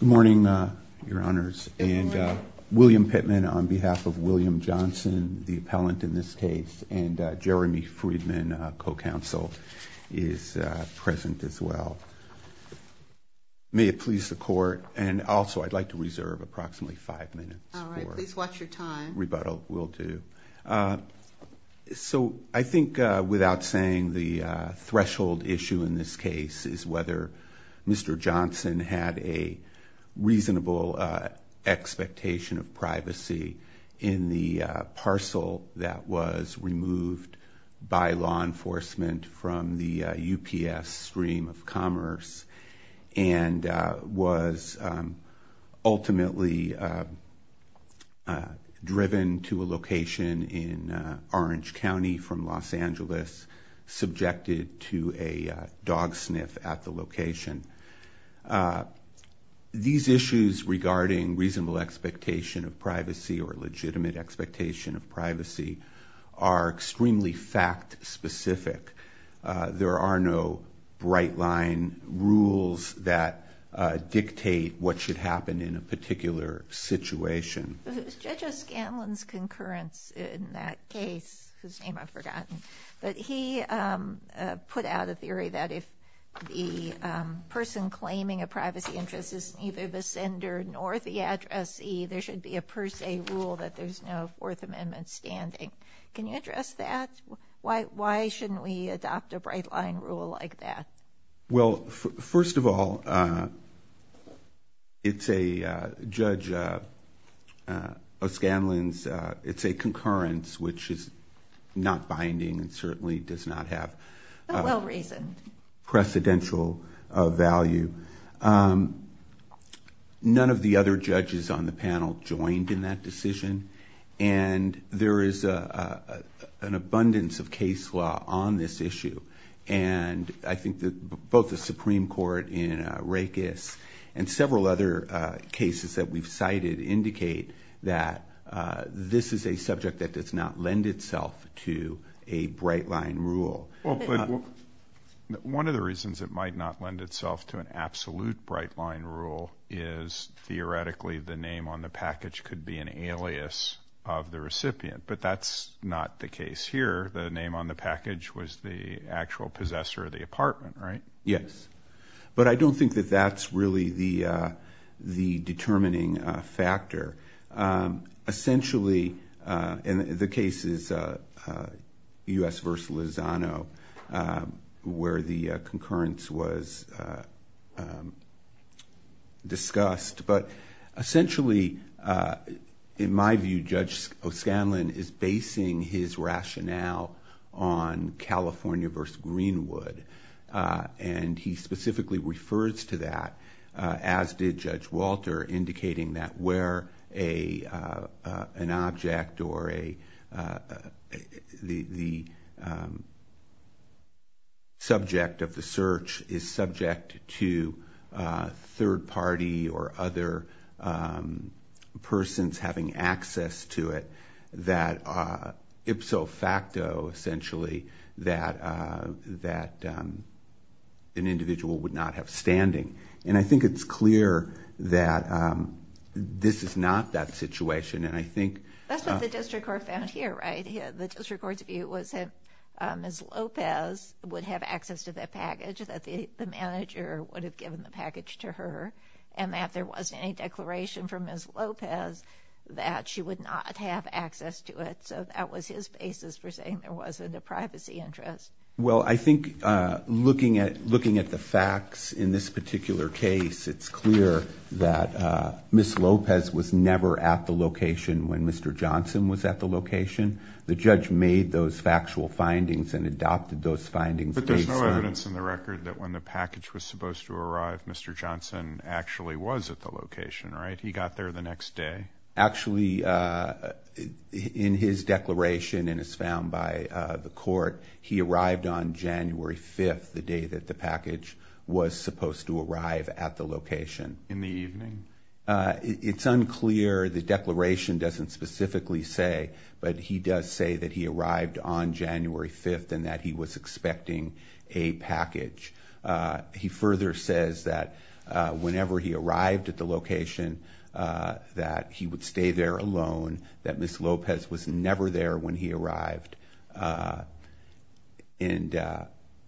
Good morning, your honors, and William Pittman, on behalf of William Johnson, the appellant in this case, and Jeremy Friedman, co-counsel, is present as well. May it please the court, and also I'd like to reserve approximately five minutes for rebuttal. So, I think without saying, the threshold issue in this case is whether Mr. Johnson had a reasonable expectation of privacy in the parcel that was removed by law enforcement from the UPS stream of commerce and was ultimately driven to a location in Orange County from Los Angeles, subjected to a dog sniff at the location. These issues regarding reasonable expectation of privacy or legitimate expectation of privacy are extremely fact specific. There are no bright line rules that dictate what should happen in a particular situation. Judge O'Scanlan's concurrence in that case, whose name I've forgotten, but he put out a theory that if the person claiming a privacy interest is neither the sender nor the addressee, there should be a per se rule that there's no Fourth Amendment standing. Can you address that? Why shouldn't we adopt a bright line rule like that? Well, first of all, it's a, Judge O'Scanlan's, it's a concurrence, which is not binding and certainly does not have a well reasoned precedential value. None of the other judges on the panel joined in that decision and there is an abundance of case law on this issue and I think that both the Supreme Court in Rakes and several other cases that we've cited indicate that this is a subject that does not lend itself to a bright line rule. Well, but one of the reasons it might not lend itself to an absolute bright line rule is theoretically the name on the package could be an alias of the recipient, but that's not the case here. The name on the package was the actual possessor of the apartment, right? Yes, but I don't think that that's really the determining factor. Essentially, and the case is U.S. v. Lozano where the concurrence was discussed, but essentially in my view, Judge O'Scanlan is basing his rationale on California v. Greenwood and he believes that an object or the subject of the search is subject to a third party or other persons having access to it that ipso facto, essentially, that an individual would not have standing. And I think it's clear that this is not that situation and I think... That's what the district court found here, right? The district court's view was that Ms. Lopez would have access to that package, that the manager would have given the package to her, and that there wasn't any declaration from Ms. Lopez that she would not have access to it. So that was his basis for saying there wasn't a privacy interest. Well, I think looking at the facts in this particular case, it's clear that Ms. Lopez was never at the location when Mr. Johnson was at the location. The judge made those factual findings and adopted those findings based on... But there's no evidence in the record that when the package was supposed to arrive, Mr. Johnson actually was at the location, right? He got there the next day. Actually, in his declaration and as found by the court, he arrived on January 5th, the day that the package was supposed to arrive at the location. In the evening? It's unclear. The declaration doesn't specifically say, but he does say that he arrived on January 5th and that he was expecting a package. He further says that whenever he arrived at the location, that he would stay there alone, that Ms. Lopez was never there when he arrived.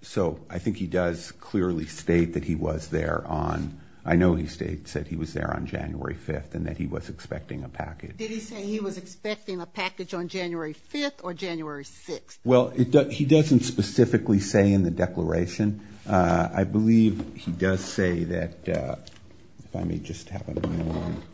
So I think he does clearly state that he was there on... I know he said he was there on January 5th and that he was expecting a package. Did he say he was expecting a package on January 5th or January 6th? Well, he doesn't specifically say in the declaration. I believe he does say that... If I may just have a moment.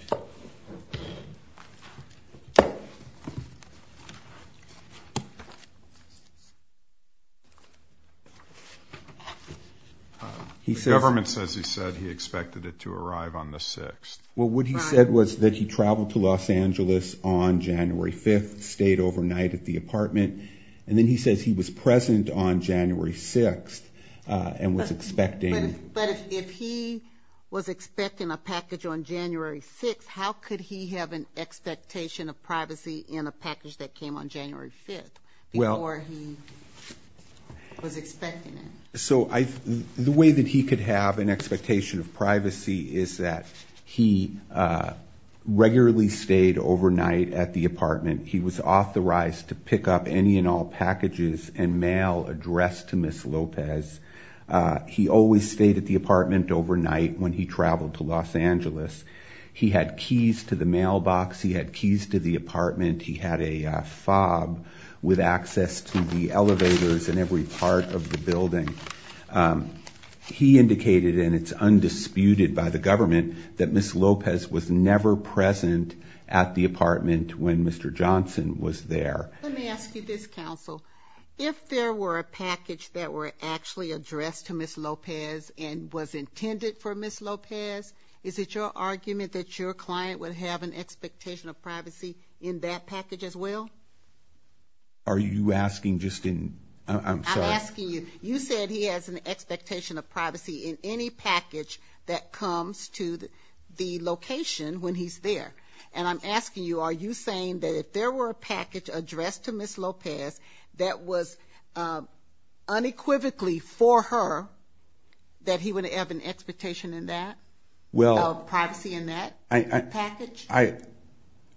The government says he said he expected it to arrive on the 6th. Well, what he said was that he traveled to Los Angeles on January 5th, stayed overnight at the apartment, and then he says he was present on January 6th and was expecting... But if he was expecting a package on January 6th, how could he have an expectation of privacy in a package that came on January 5th before he was expecting it? So the way that he could have an expectation of privacy is that he regularly stayed overnight at the apartment. He was authorized to pick up any and all packages and mail addressed to Ms. Lopez. He always stayed at the apartment overnight when he traveled to Los Angeles. He had keys to the mailbox. He had keys to the apartment. He had a fob with access to the elevators in every part of the building. He indicated, and it's undisputed by the government, that Ms. Lopez was never present at the apartment when Mr. Johnson was there. Let me ask you this, counsel. If there were a package that were actually addressed to Ms. Lopez and was intended for Ms. Lopez, is it your argument that your client would have an expectation of privacy in that package as well? Are you asking just in... I'm sorry. I'm asking you. You said he has an expectation of privacy in any package that comes to the location when he's there. And I'm asking you, are you saying that if there were a package addressed to Ms. Lopez that was unequivocally for her, that he would have an expectation in that, of privacy in that package?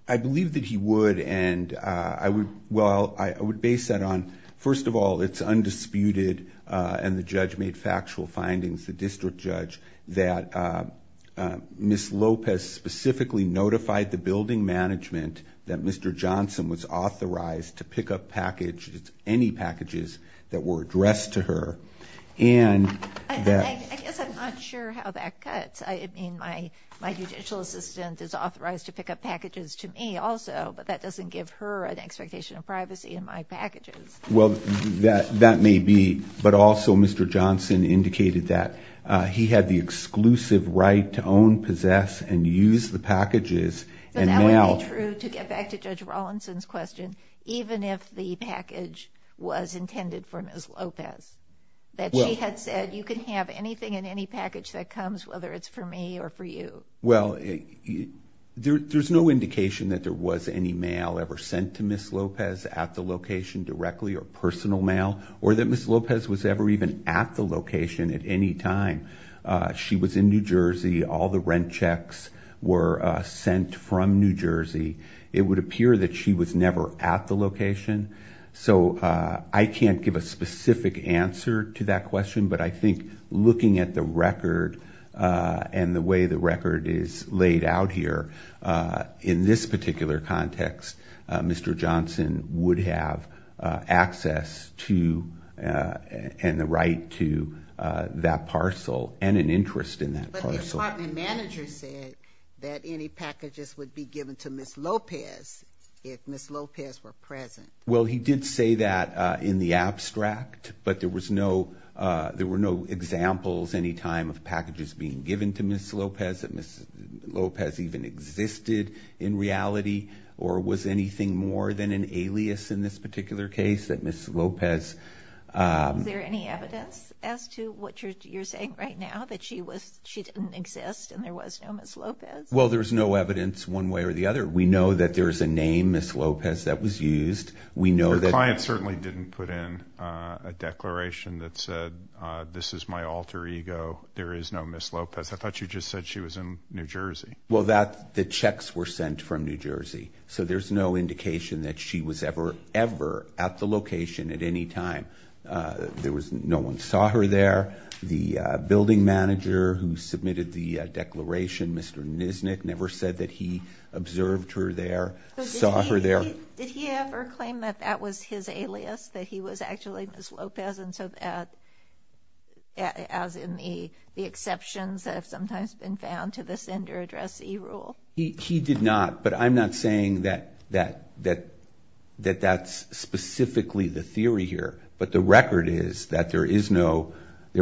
I believe that he would, and I would base that on... First of all, it's undisputed, and the judge made factual findings, the district judge, that Ms. Lopez specifically notified the building management that Mr. Johnson was authorized to pick up any packages that were addressed to her, and that... I guess I'm not sure how that cuts. I mean, my judicial assistant is authorized to pick up packages to me also, but that doesn't Well, that may be, but also Mr. Johnson indicated that he had the exclusive right to own, possess, and use the packages, and now... But that would be true, to get back to Judge Rawlinson's question, even if the package was intended for Ms. Lopez, that she had said, you can have anything in any package that comes whether it's for me or for you. Well, there's no indication that there was any mail ever sent to Ms. Lopez at the location directly or personal mail, or that Ms. Lopez was ever even at the location at any time. She was in New Jersey, all the rent checks were sent from New Jersey. It would appear that she was never at the location, so I can't give a specific answer to that question, but I think looking at the record and the way the record is laid out here, in this particular context, Mr. Johnson would have access to, and the right to, that parcel, and an interest in that parcel. But the apartment manager said that any packages would be given to Ms. Lopez if Ms. Lopez were present. Well, he did say that in the abstract, but there were no examples any time of packages being given to Ms. Lopez, that Ms. Lopez even existed in reality, or was anything more than an alias in this particular case, that Ms. Lopez... Is there any evidence as to what you're saying right now, that she didn't exist and there was no Ms. Lopez? Well, there's no evidence one way or the other. We know that there's a name, Ms. Lopez, that was used. We know that... Your client certainly didn't put in a declaration that said, this is my alter ego. There is no Ms. Lopez. I thought you just said she was in New Jersey. Well, the checks were sent from New Jersey, so there's no indication that she was ever, ever at the location at any time. No one saw her there. The building manager who submitted the declaration, Mr. Nisnick, never said that he observed her there, saw her there. Did he ever claim that that was his alias, that he was actually Ms. Lopez, and so that, as in the exceptions that have sometimes been found to the sender address e-rule? He did not, but I'm not saying that that's specifically the theory here, but the record is that there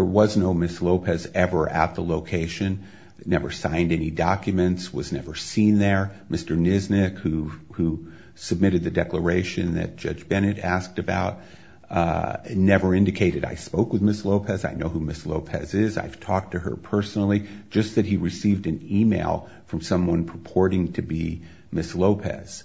was no Ms. Lopez ever at the location, never signed any documents, was never seen there. Mr. Nisnick, who submitted the declaration that Judge Bennett asked about, never indicated I spoke with Ms. Lopez, I know who Ms. Lopez is, I've talked to her personally, just that he received an email from someone purporting to be Ms. Lopez.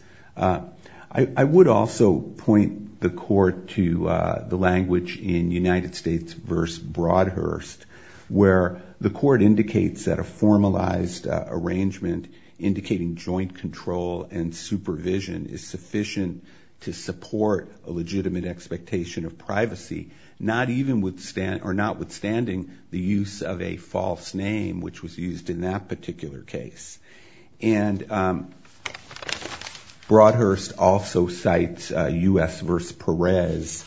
I would also point the court to the language in United States v. Broadhurst, where the court indicates that a formalized arrangement indicating joint control and supervision is sufficient to support a legitimate expectation of privacy, notwithstanding the use of a false name, which was used in that particular case. Broadhurst also cites U.S. v. Perez,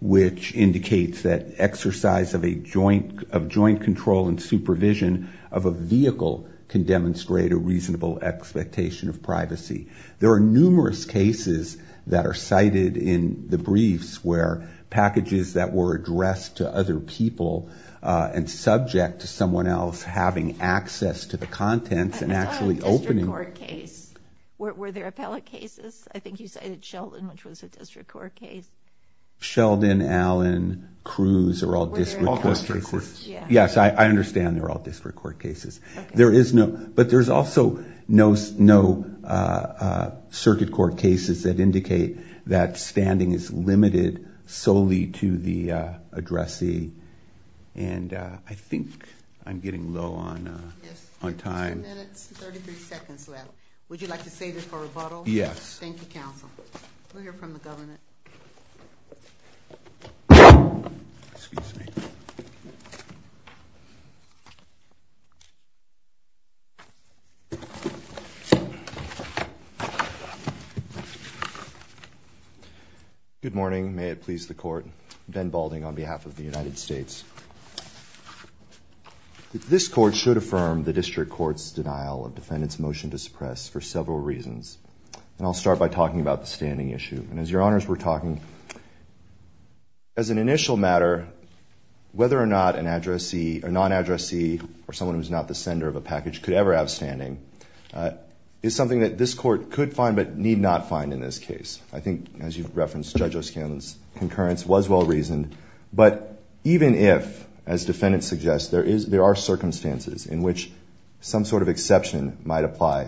which indicates that exercise of joint control and supervision of a vehicle can demonstrate a reasonable expectation of privacy. There are numerous cases that are cited in the briefs where packages that were addressed to other people and subject to someone else having access to the contents and actually I thought it was a district court case. Were there appellate cases? I think you cited Sheldon, which was a district court case. Sheldon, Allen, Cruz are all district court cases. Yes, I understand they're all district court cases. But there's also no circuit court cases that indicate that standing is limited solely to the addressee and I think I'm getting low on time. Yes, two minutes and 33 seconds left. Would you like to save it for rebuttal? Yes. Thank you, counsel. We'll hear from the governor. Excuse me. Good morning. May it please the court. Ben Balding on behalf of the United States. This court should affirm the district court's denial of defendant's motion to suppress for several reasons. And I'll start by talking about the standing issue. And as your honors were talking, as an initial matter, whether or not a non-addressee or someone who's not the sender of a package could ever have standing is something that this court could find but need not find in this case. I think, as you've referenced, Judge O'Scanlan's concurrence was well reasoned. But even if, as defendant suggests, there are circumstances in which some sort of exception might apply,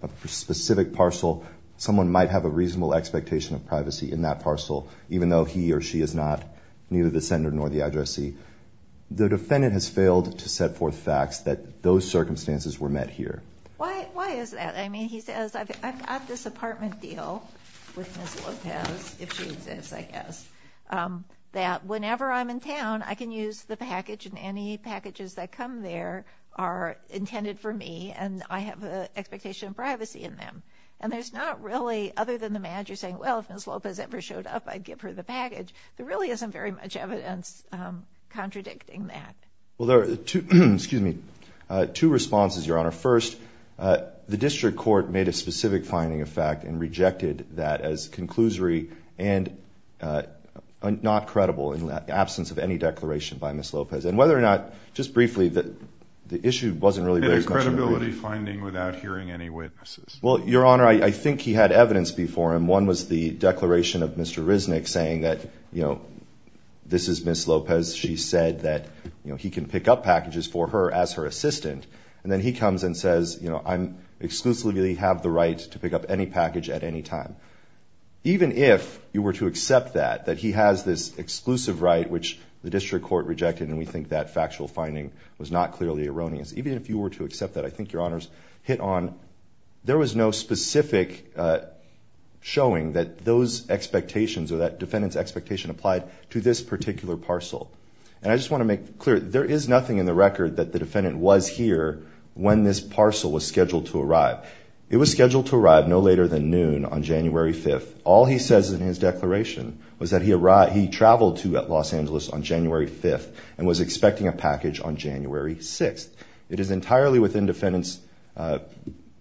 a specific parcel, someone might have a reasonable expectation of privacy in that parcel, even though he or she is not neither the sender nor the addressee. The defendant has failed to set forth facts that those circumstances were met here. Why is that? I mean, he says, I've got this apartment deal with Ms. Lopez, if she exists, I guess, that whenever I'm in town, I can use the package and any packages that come there are intended for me, and I have an expectation of privacy in them. And there's not really, other than the manager saying, well, if Ms. Lopez ever showed up, I'd give her the package. There really isn't very much evidence contradicting that. Well, there are two, excuse me, two responses, Your Honor. First, the district court made a specific finding of fact and rejected that as a conclusory and not credible in the absence of any declaration by Ms. Lopez. And whether or not, just briefly, the issue wasn't really raised. Any credibility finding without hearing any witnesses? Well, Your Honor, I think he had evidence before him. One was the declaration of Mr. Risnick saying that, you know, this is Ms. Lopez. She said that, you know, he can pick up packages for her as her assistant. And then he comes and says, you know, I exclusively have the right to pick up any package at any time. Even if you were to accept that, that he has this exclusive right, which the district court rejected, and we think that factual finding was not clearly erroneous. Even if you were to accept that, I think, Your Honors, hit on, there was no specific showing that those expectations or that defendant's expectation applied to this particular parcel. And I just want to make clear, there is nothing in the record that the defendant was here when this parcel was scheduled to arrive. It was scheduled to arrive no later than noon on January 5th. All he says in his declaration was that he arrived, he traveled to Los Angeles on January 5th and was expecting a package on January 6th. It is entirely within defendant's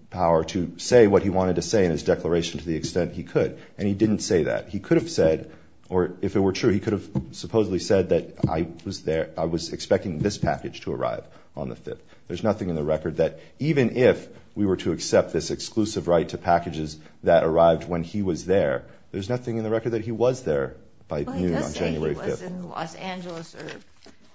power to say what he wanted to say in his declaration to the extent he could. And he didn't say that. He could have said, or if it were true, he could have supposedly said that I was there, I was expecting this package to arrive on the 5th. There's nothing in the record that even if we were to accept this exclusive right to packages that arrived when he was there, there's nothing in the record that he was there by noon on January 5th. He was in Los Angeles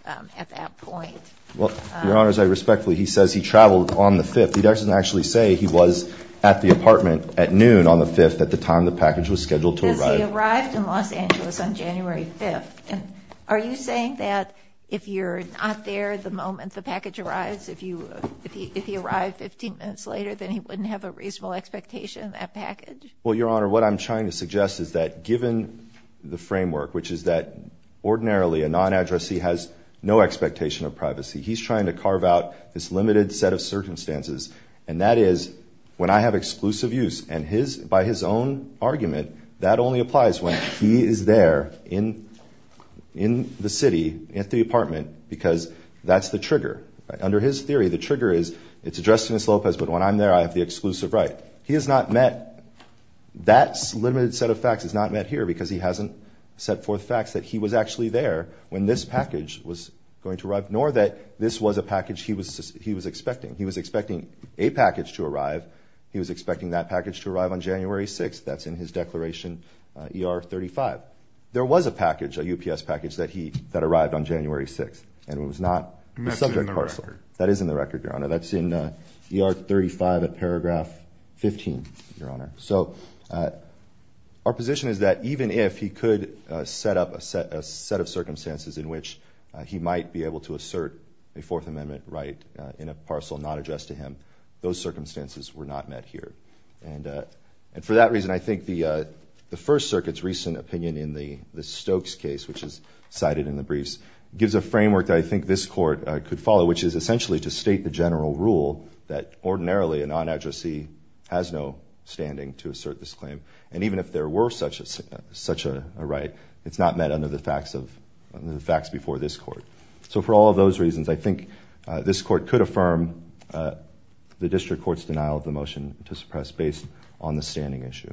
at that point. Well, Your Honor, as I respectfully, he says he traveled on the 5th. He doesn't actually say he was at the apartment at noon on the 5th at the time the package was scheduled to arrive. He says he arrived in Los Angeles on January 5th. And are you saying that if you're not there the moment the package arrives, if he arrived 15 minutes later, then he wouldn't have a reasonable expectation of that package? Well, Your Honor, what I'm trying to suggest is that given the framework, which is that ordinarily a non-addressee has no expectation of privacy, he's trying to carve out this limited set of circumstances, and that is when I have exclusive use, and by his own argument that only applies when he is there in the city at the apartment because that's the trigger. Under his theory, the trigger is it's addressed to Ms. Lopez, but when I'm there I have the exclusive right. He has not met that limited set of facts. It's not met here because he hasn't set forth facts that he was actually there when this package was going to arrive, nor that this was a package he was expecting. He was expecting a package to arrive. He was expecting that package to arrive on January 6th. That's in his declaration, ER 35. There was a package, a UPS package, that arrived on January 6th, and it was not the subject parcel. That's in the record. That is in the record, Your Honor. That's in ER 35 at paragraph 15, Your Honor. So our position is that even if he could set up a set of circumstances in which he might be able to assert a Fourth Amendment right in a parcel not addressed to him, those circumstances were not met here. And for that reason, I think the First Circuit's recent opinion in the Stokes case, which is cited in the briefs, gives a framework that I think this Court could follow, which is essentially to state the general rule that ordinarily a non-addressee has no standing to assert this claim. And even if there were such a right, it's not met under the facts before this Court. So for all of those reasons, I think this Court could affirm the district court's denial of the motion to suppress based on the standing issue.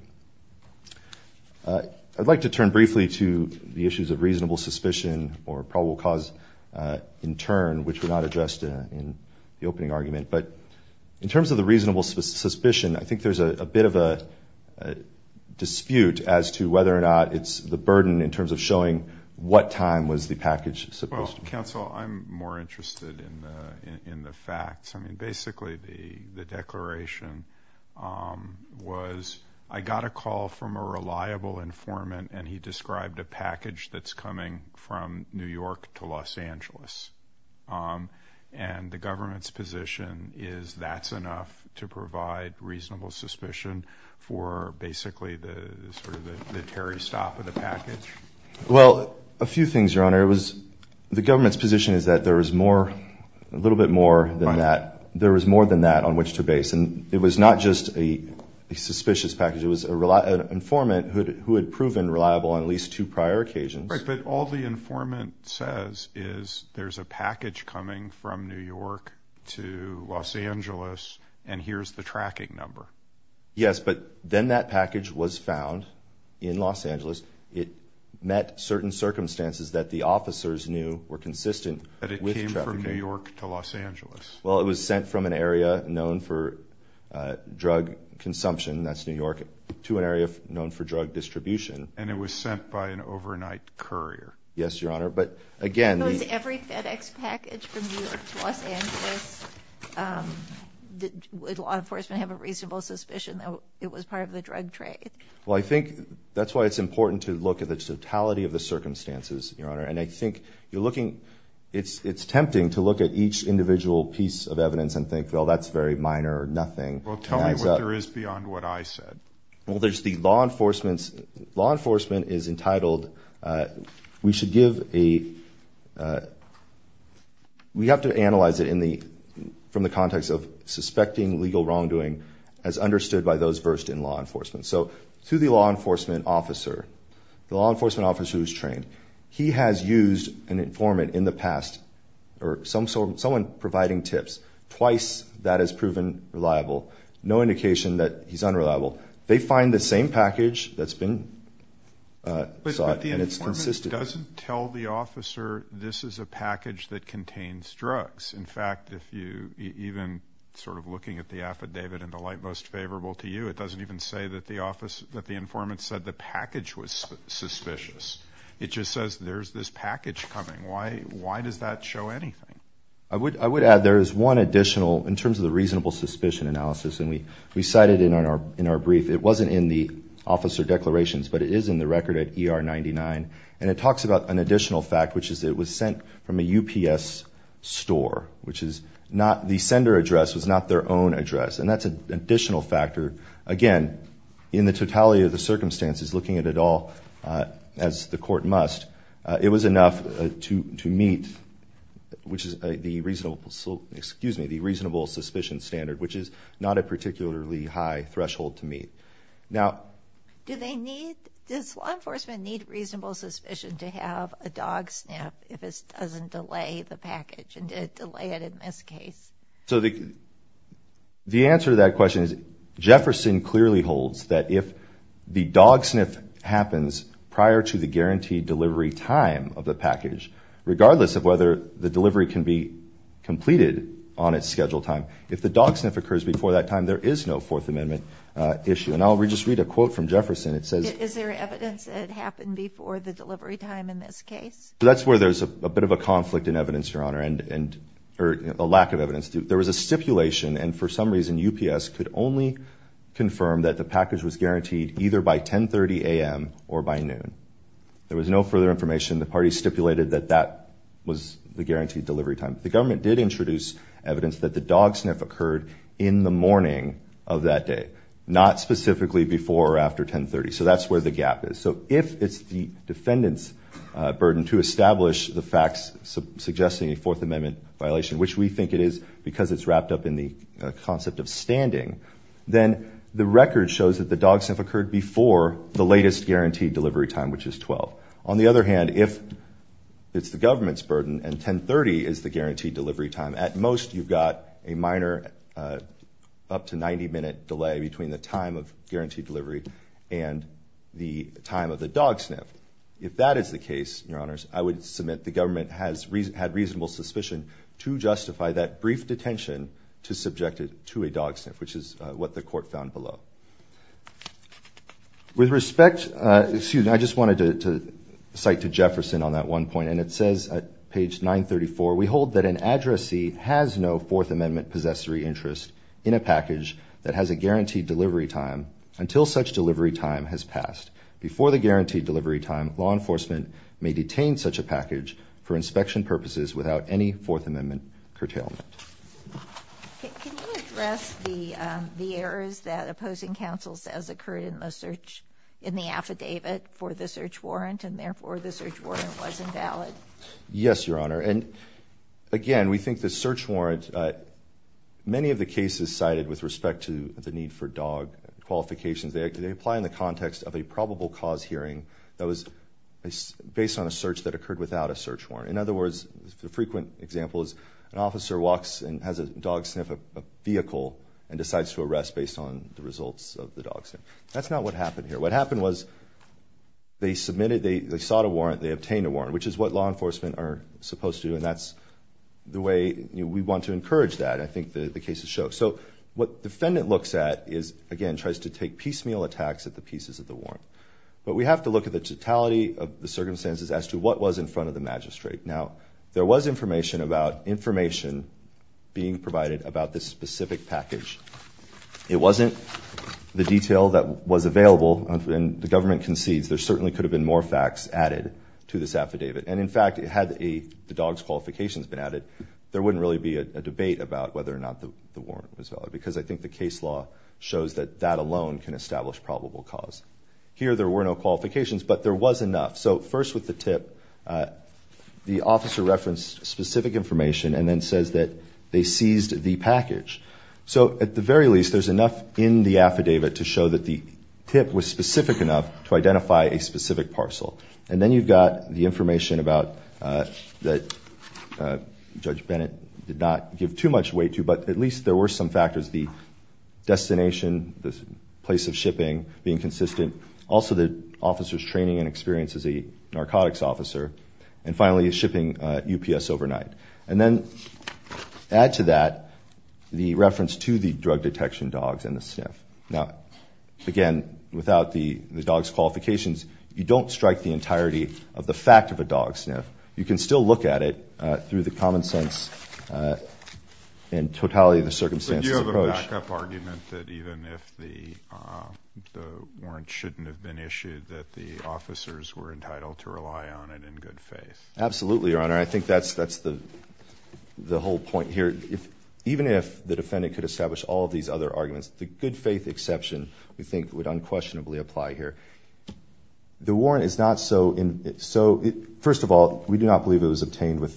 I'd like to turn briefly to the issues of reasonable suspicion or probable cause in turn, which were not addressed in the opening argument. But in terms of the reasonable suspicion, I think there's a bit of a dispute as to whether or not it's the burden in terms of showing what time was the package supposed to be. Well, counsel, I'm more interested in the facts. I mean, basically the declaration was, I got a call from a reliable informant, and he described a package that's coming from New York to Los Angeles. And the government's position is that's enough to provide reasonable suspicion for basically sort of the Terry stop of the package. Well, a few things, Your Honor. It was the government's position is that there was more, a little bit more than that. There was more than that on which to base. And it was not just a suspicious package. It was an informant who had proven reliable on at least two prior occasions. But all the informant says is there's a package coming from New York to Los Angeles, and here's the tracking number. Yes, but then that package was found in Los Angeles. It met certain circumstances that the officers knew were consistent with trafficking. But it came from New York to Los Angeles. Well, it was sent from an area known for drug consumption, that's New York, to an area known for drug distribution. And it was sent by an overnight courier. Yes, Your Honor. But, again, the- Was every FedEx package from New York to Los Angeles, would law enforcement have a reasonable suspicion that it was part of the drug trade? Well, I think that's why it's important to look at the totality of the circumstances, Your Honor. And I think you're looking- it's tempting to look at each individual piece of evidence and think, well, that's very minor or nothing. Well, tell me what there is beyond what I said. Well, there's the law enforcement's- law enforcement is entitled- we should give a- we have to analyze it from the context of suspecting legal wrongdoing as understood by those versed in law enforcement. So to the law enforcement officer, the law enforcement officer who's trained, he has used an informant in the past or someone providing tips. Twice that has proven reliable. No indication that he's unreliable. They find the same package that's been sought and it's consistent. But the informant doesn't tell the officer this is a package that contains drugs. In fact, if you- even sort of looking at the affidavit in the light most favorable to you, it doesn't even say that the office- that the informant said the package was suspicious. It just says there's this package coming. Why does that show anything? I would add there is one additional, in terms of the reasonable suspicion analysis, and we cited it in our brief. It wasn't in the officer declarations, but it is in the record at ER 99. And it talks about an additional fact, which is it was sent from a UPS store, which is not- the sender address was not their own address. And that's an additional factor. Again, in the totality of the circumstances, looking at it all as the court must, it was enough to meet, which is the reasonable- excuse me, the reasonable suspicion standard, which is not a particularly high threshold to meet. Now- Do they need- does law enforcement need reasonable suspicion to have a dog sniff if it doesn't delay the package and delay it in this case? So the answer to that question is Jefferson clearly holds that if the dog sniff happens prior to the guaranteed delivery time of the package, regardless of whether the delivery can be completed on its scheduled time, if the dog sniff occurs before that time, there is no Fourth Amendment issue. And I'll just read a quote from Jefferson. It says- Is there evidence that it happened before the delivery time in this case? So that's where there's a bit of a conflict in evidence, Your Honor, and- or a lack of evidence. There was a stipulation, and for some reason UPS could only confirm that the package was guaranteed either by 1030 a.m. or by noon. There was no further information. The party stipulated that that was the guaranteed delivery time. The government did introduce evidence that the dog sniff occurred in the morning of that day, not specifically before or after 1030. So that's where the gap is. So if it's the defendant's burden to establish the facts suggesting a Fourth Amendment violation, which we think it is because it's wrapped up in the concept of standing, then the record shows that the dog sniff occurred before the latest guaranteed delivery time, which is 12. On the other hand, if it's the government's burden and 1030 is the guaranteed delivery time, at most you've got a minor up to 90-minute delay between the time of guaranteed delivery and the time of the dog sniff. If that is the case, Your Honors, I would submit the government had reasonable suspicion to justify that brief detention to subject it to a dog sniff, which is what the court found below. With respect, excuse me, I just wanted to cite to Jefferson on that one point, and it says at page 934, we hold that an addressee has no Fourth Amendment possessory interest in a package that has a guaranteed delivery time until such delivery time has passed. Before the guaranteed delivery time, law enforcement may detain such a package for inspection purposes without any Fourth Amendment curtailment. Can you address the errors that opposing counsel says occurred in the search, in the affidavit for the search warrant, and therefore the search warrant was invalid? Yes, Your Honor. And again, we think the search warrant, many of the cases cited with respect to the need for dog qualifications, they apply in the context of a probable cause hearing that was based on a search that occurred without a search warrant. In other words, the frequent example is an officer walks and has a dog sniff a vehicle and decides to arrest based on the results of the dog sniff. That's not what happened here. What happened was they submitted, they sought a warrant, they obtained a warrant, which is what law enforcement are supposed to do, and that's the way we want to encourage that. I think the cases show. So what defendant looks at is, again, tries to take piecemeal attacks at the pieces of the warrant. But we have to look at the totality of the circumstances as to what was in front of the magistrate. Now, there was information about information being provided about this specific package. It wasn't the detail that was available, and the government concedes there certainly could have been more facts added to this affidavit. And, in fact, had the dog's qualifications been added, there wouldn't really be a debate about whether or not the warrant was valid because I think the case law shows that that alone can establish probable cause. Here there were no qualifications, but there was enough. So first with the tip, the officer referenced specific information and then says that they seized the package. So at the very least, there's enough in the affidavit to show that the tip was specific enough to identify a specific parcel. And then you've got the information that Judge Bennett did not give too much weight to, but at least there were some factors, the destination, the place of shipping being consistent, also the officer's training and experience as a narcotics officer, and finally his shipping UPS overnight. And then add to that the reference to the drug detection dogs and the sniff. Now, again, without the dog's qualifications, you don't strike the entirety of the fact of a dog sniff. You can still look at it through the common sense and totality of the circumstances approach. But you have a back-up argument that even if the warrant shouldn't have been issued, that the officers were entitled to rely on it in good faith. Absolutely, Your Honor. I think that's the whole point here. Even if the defendant could establish all these other arguments, the good faith exception, we think, would unquestionably apply here. The warrant is not so, first of all, we do not believe it was obtained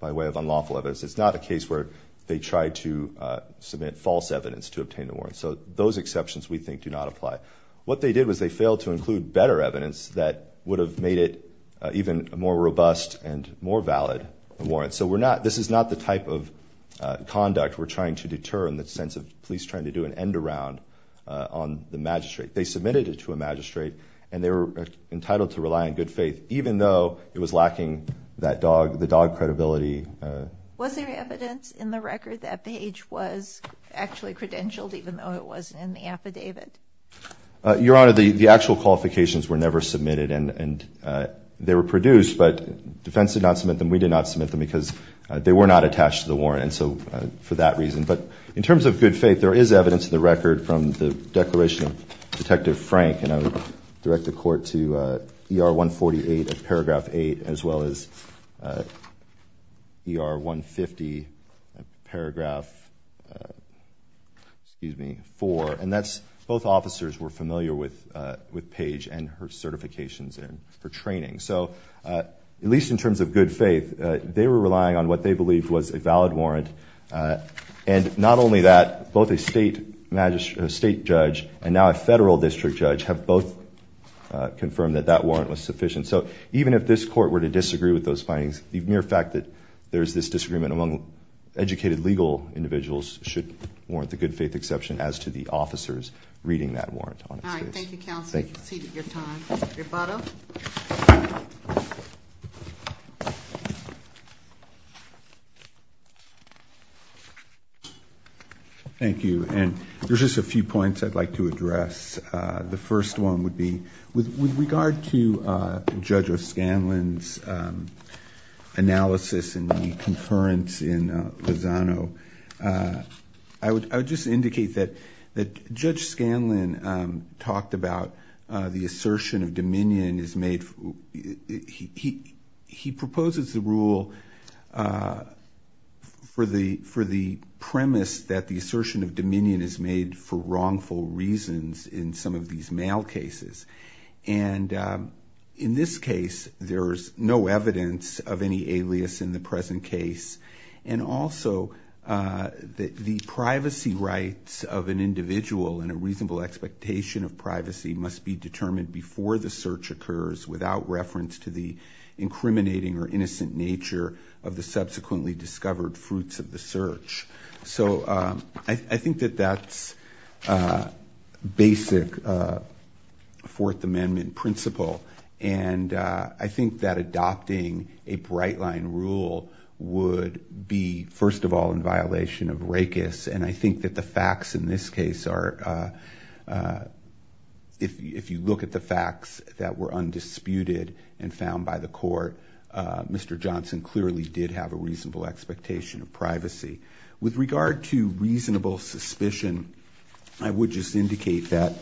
by way of unlawful evidence. It's not a case where they tried to submit false evidence to obtain the warrant. So those exceptions, we think, do not apply. What they did was they failed to include better evidence that would have made it even a more robust and more valid warrant. So this is not the type of conduct we're trying to deter in the sense of police trying to do an end-around on the magistrate. They submitted it to a magistrate, and they were entitled to rely on good faith, even though it was lacking the dog credibility. Was there evidence in the record that Page was actually credentialed, even though it wasn't in the affidavit? Your Honor, the actual qualifications were never submitted. And they were produced, but defense did not submit them. We did not submit them because they were not attached to the warrant, and so for that reason. But in terms of good faith, there is evidence in the record from the declaration of Detective Frank, and I would direct the Court to ER 148, paragraph 8, as well as ER 150, paragraph 4. And that's both officers were familiar with Page and her certifications and her training. So at least in terms of good faith, they were relying on what they believed was a valid warrant. And not only that, both a state judge and now a federal district judge have both confirmed that that warrant was sufficient. So even if this Court were to disagree with those findings, the mere fact that there's this disagreement among educated legal individuals should warrant the good faith exception as to the officers reading that warrant on its face. All right, thank you, counsel. You've exceeded your time. Your motto? Thank you. And there's just a few points I'd like to address. The first one would be with regard to Judge O'Scanlan's analysis and the concurrence in Lozano, I would just indicate that Judge O'Scanlan talked about the assertion of dominion. He proposes the rule for the premise that the assertion of dominion is made for wrongful reasons in some of these male cases. And in this case, there's no evidence of any alias in the present case. And also, the privacy rights of an individual and a reasonable expectation of privacy must be determined before the search occurs without reference to the incriminating or innocent nature of the subsequently discovered fruits of the search. So I think that that's basic Fourth Amendment principle. And I think that adopting a bright line rule would be, first of all, in violation of racis. And I think that the facts in this case are, if you look at the facts that were undisputed and found by the court, Mr. Johnson clearly did have a reasonable expectation of privacy. With regard to reasonable suspicion, I would just indicate that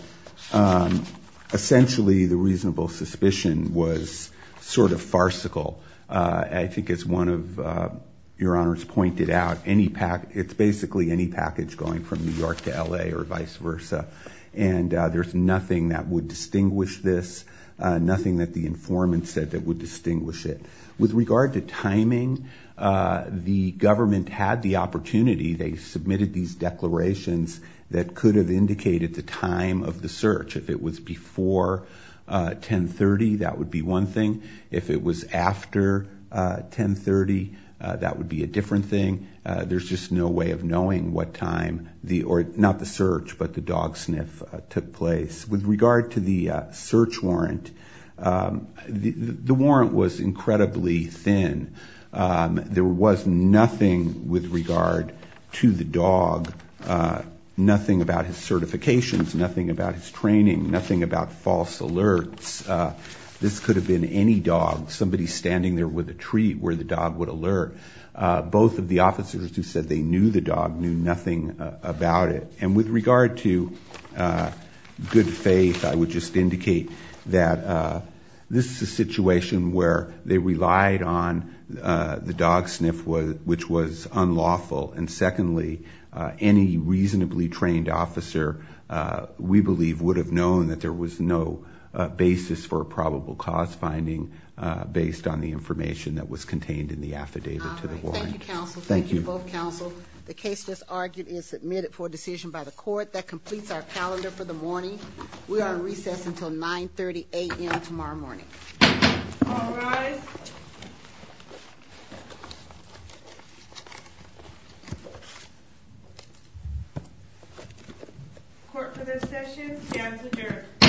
essentially the reasonable suspicion was sort of farcical. I think as one of your honors pointed out, it's basically any package going from New York to L.A. or vice versa. And there's nothing that would distinguish this, nothing that the informant said that would distinguish it. With regard to timing, the government had the opportunity. They submitted these declarations that could have indicated the time of the search. If it was before 10.30, that would be one thing. If it was after 10.30, that would be a different thing. There's just no way of knowing what time the – or not the search, but the dog sniff took place. With regard to the search warrant, the warrant was incredibly thin. There was nothing with regard to the dog, nothing about his certifications, nothing about his training, nothing about false alerts. This could have been any dog, somebody standing there with a treat where the dog would alert. Both of the officers who said they knew the dog knew nothing about it. And with regard to good faith, I would just indicate that this is a situation where they relied on the dog sniff, which was unlawful. And secondly, any reasonably trained officer, we believe, would have known that there was no basis for a probable cause finding based on the information that was contained in the affidavit to the warrant. Thank you, counsel. Thank you to both counsel. The case just argued and submitted for decision by the court. That completes our calendar for the morning. We are on recess until 9.30 a.m. tomorrow morning. All rise. Court for this session stands adjourned.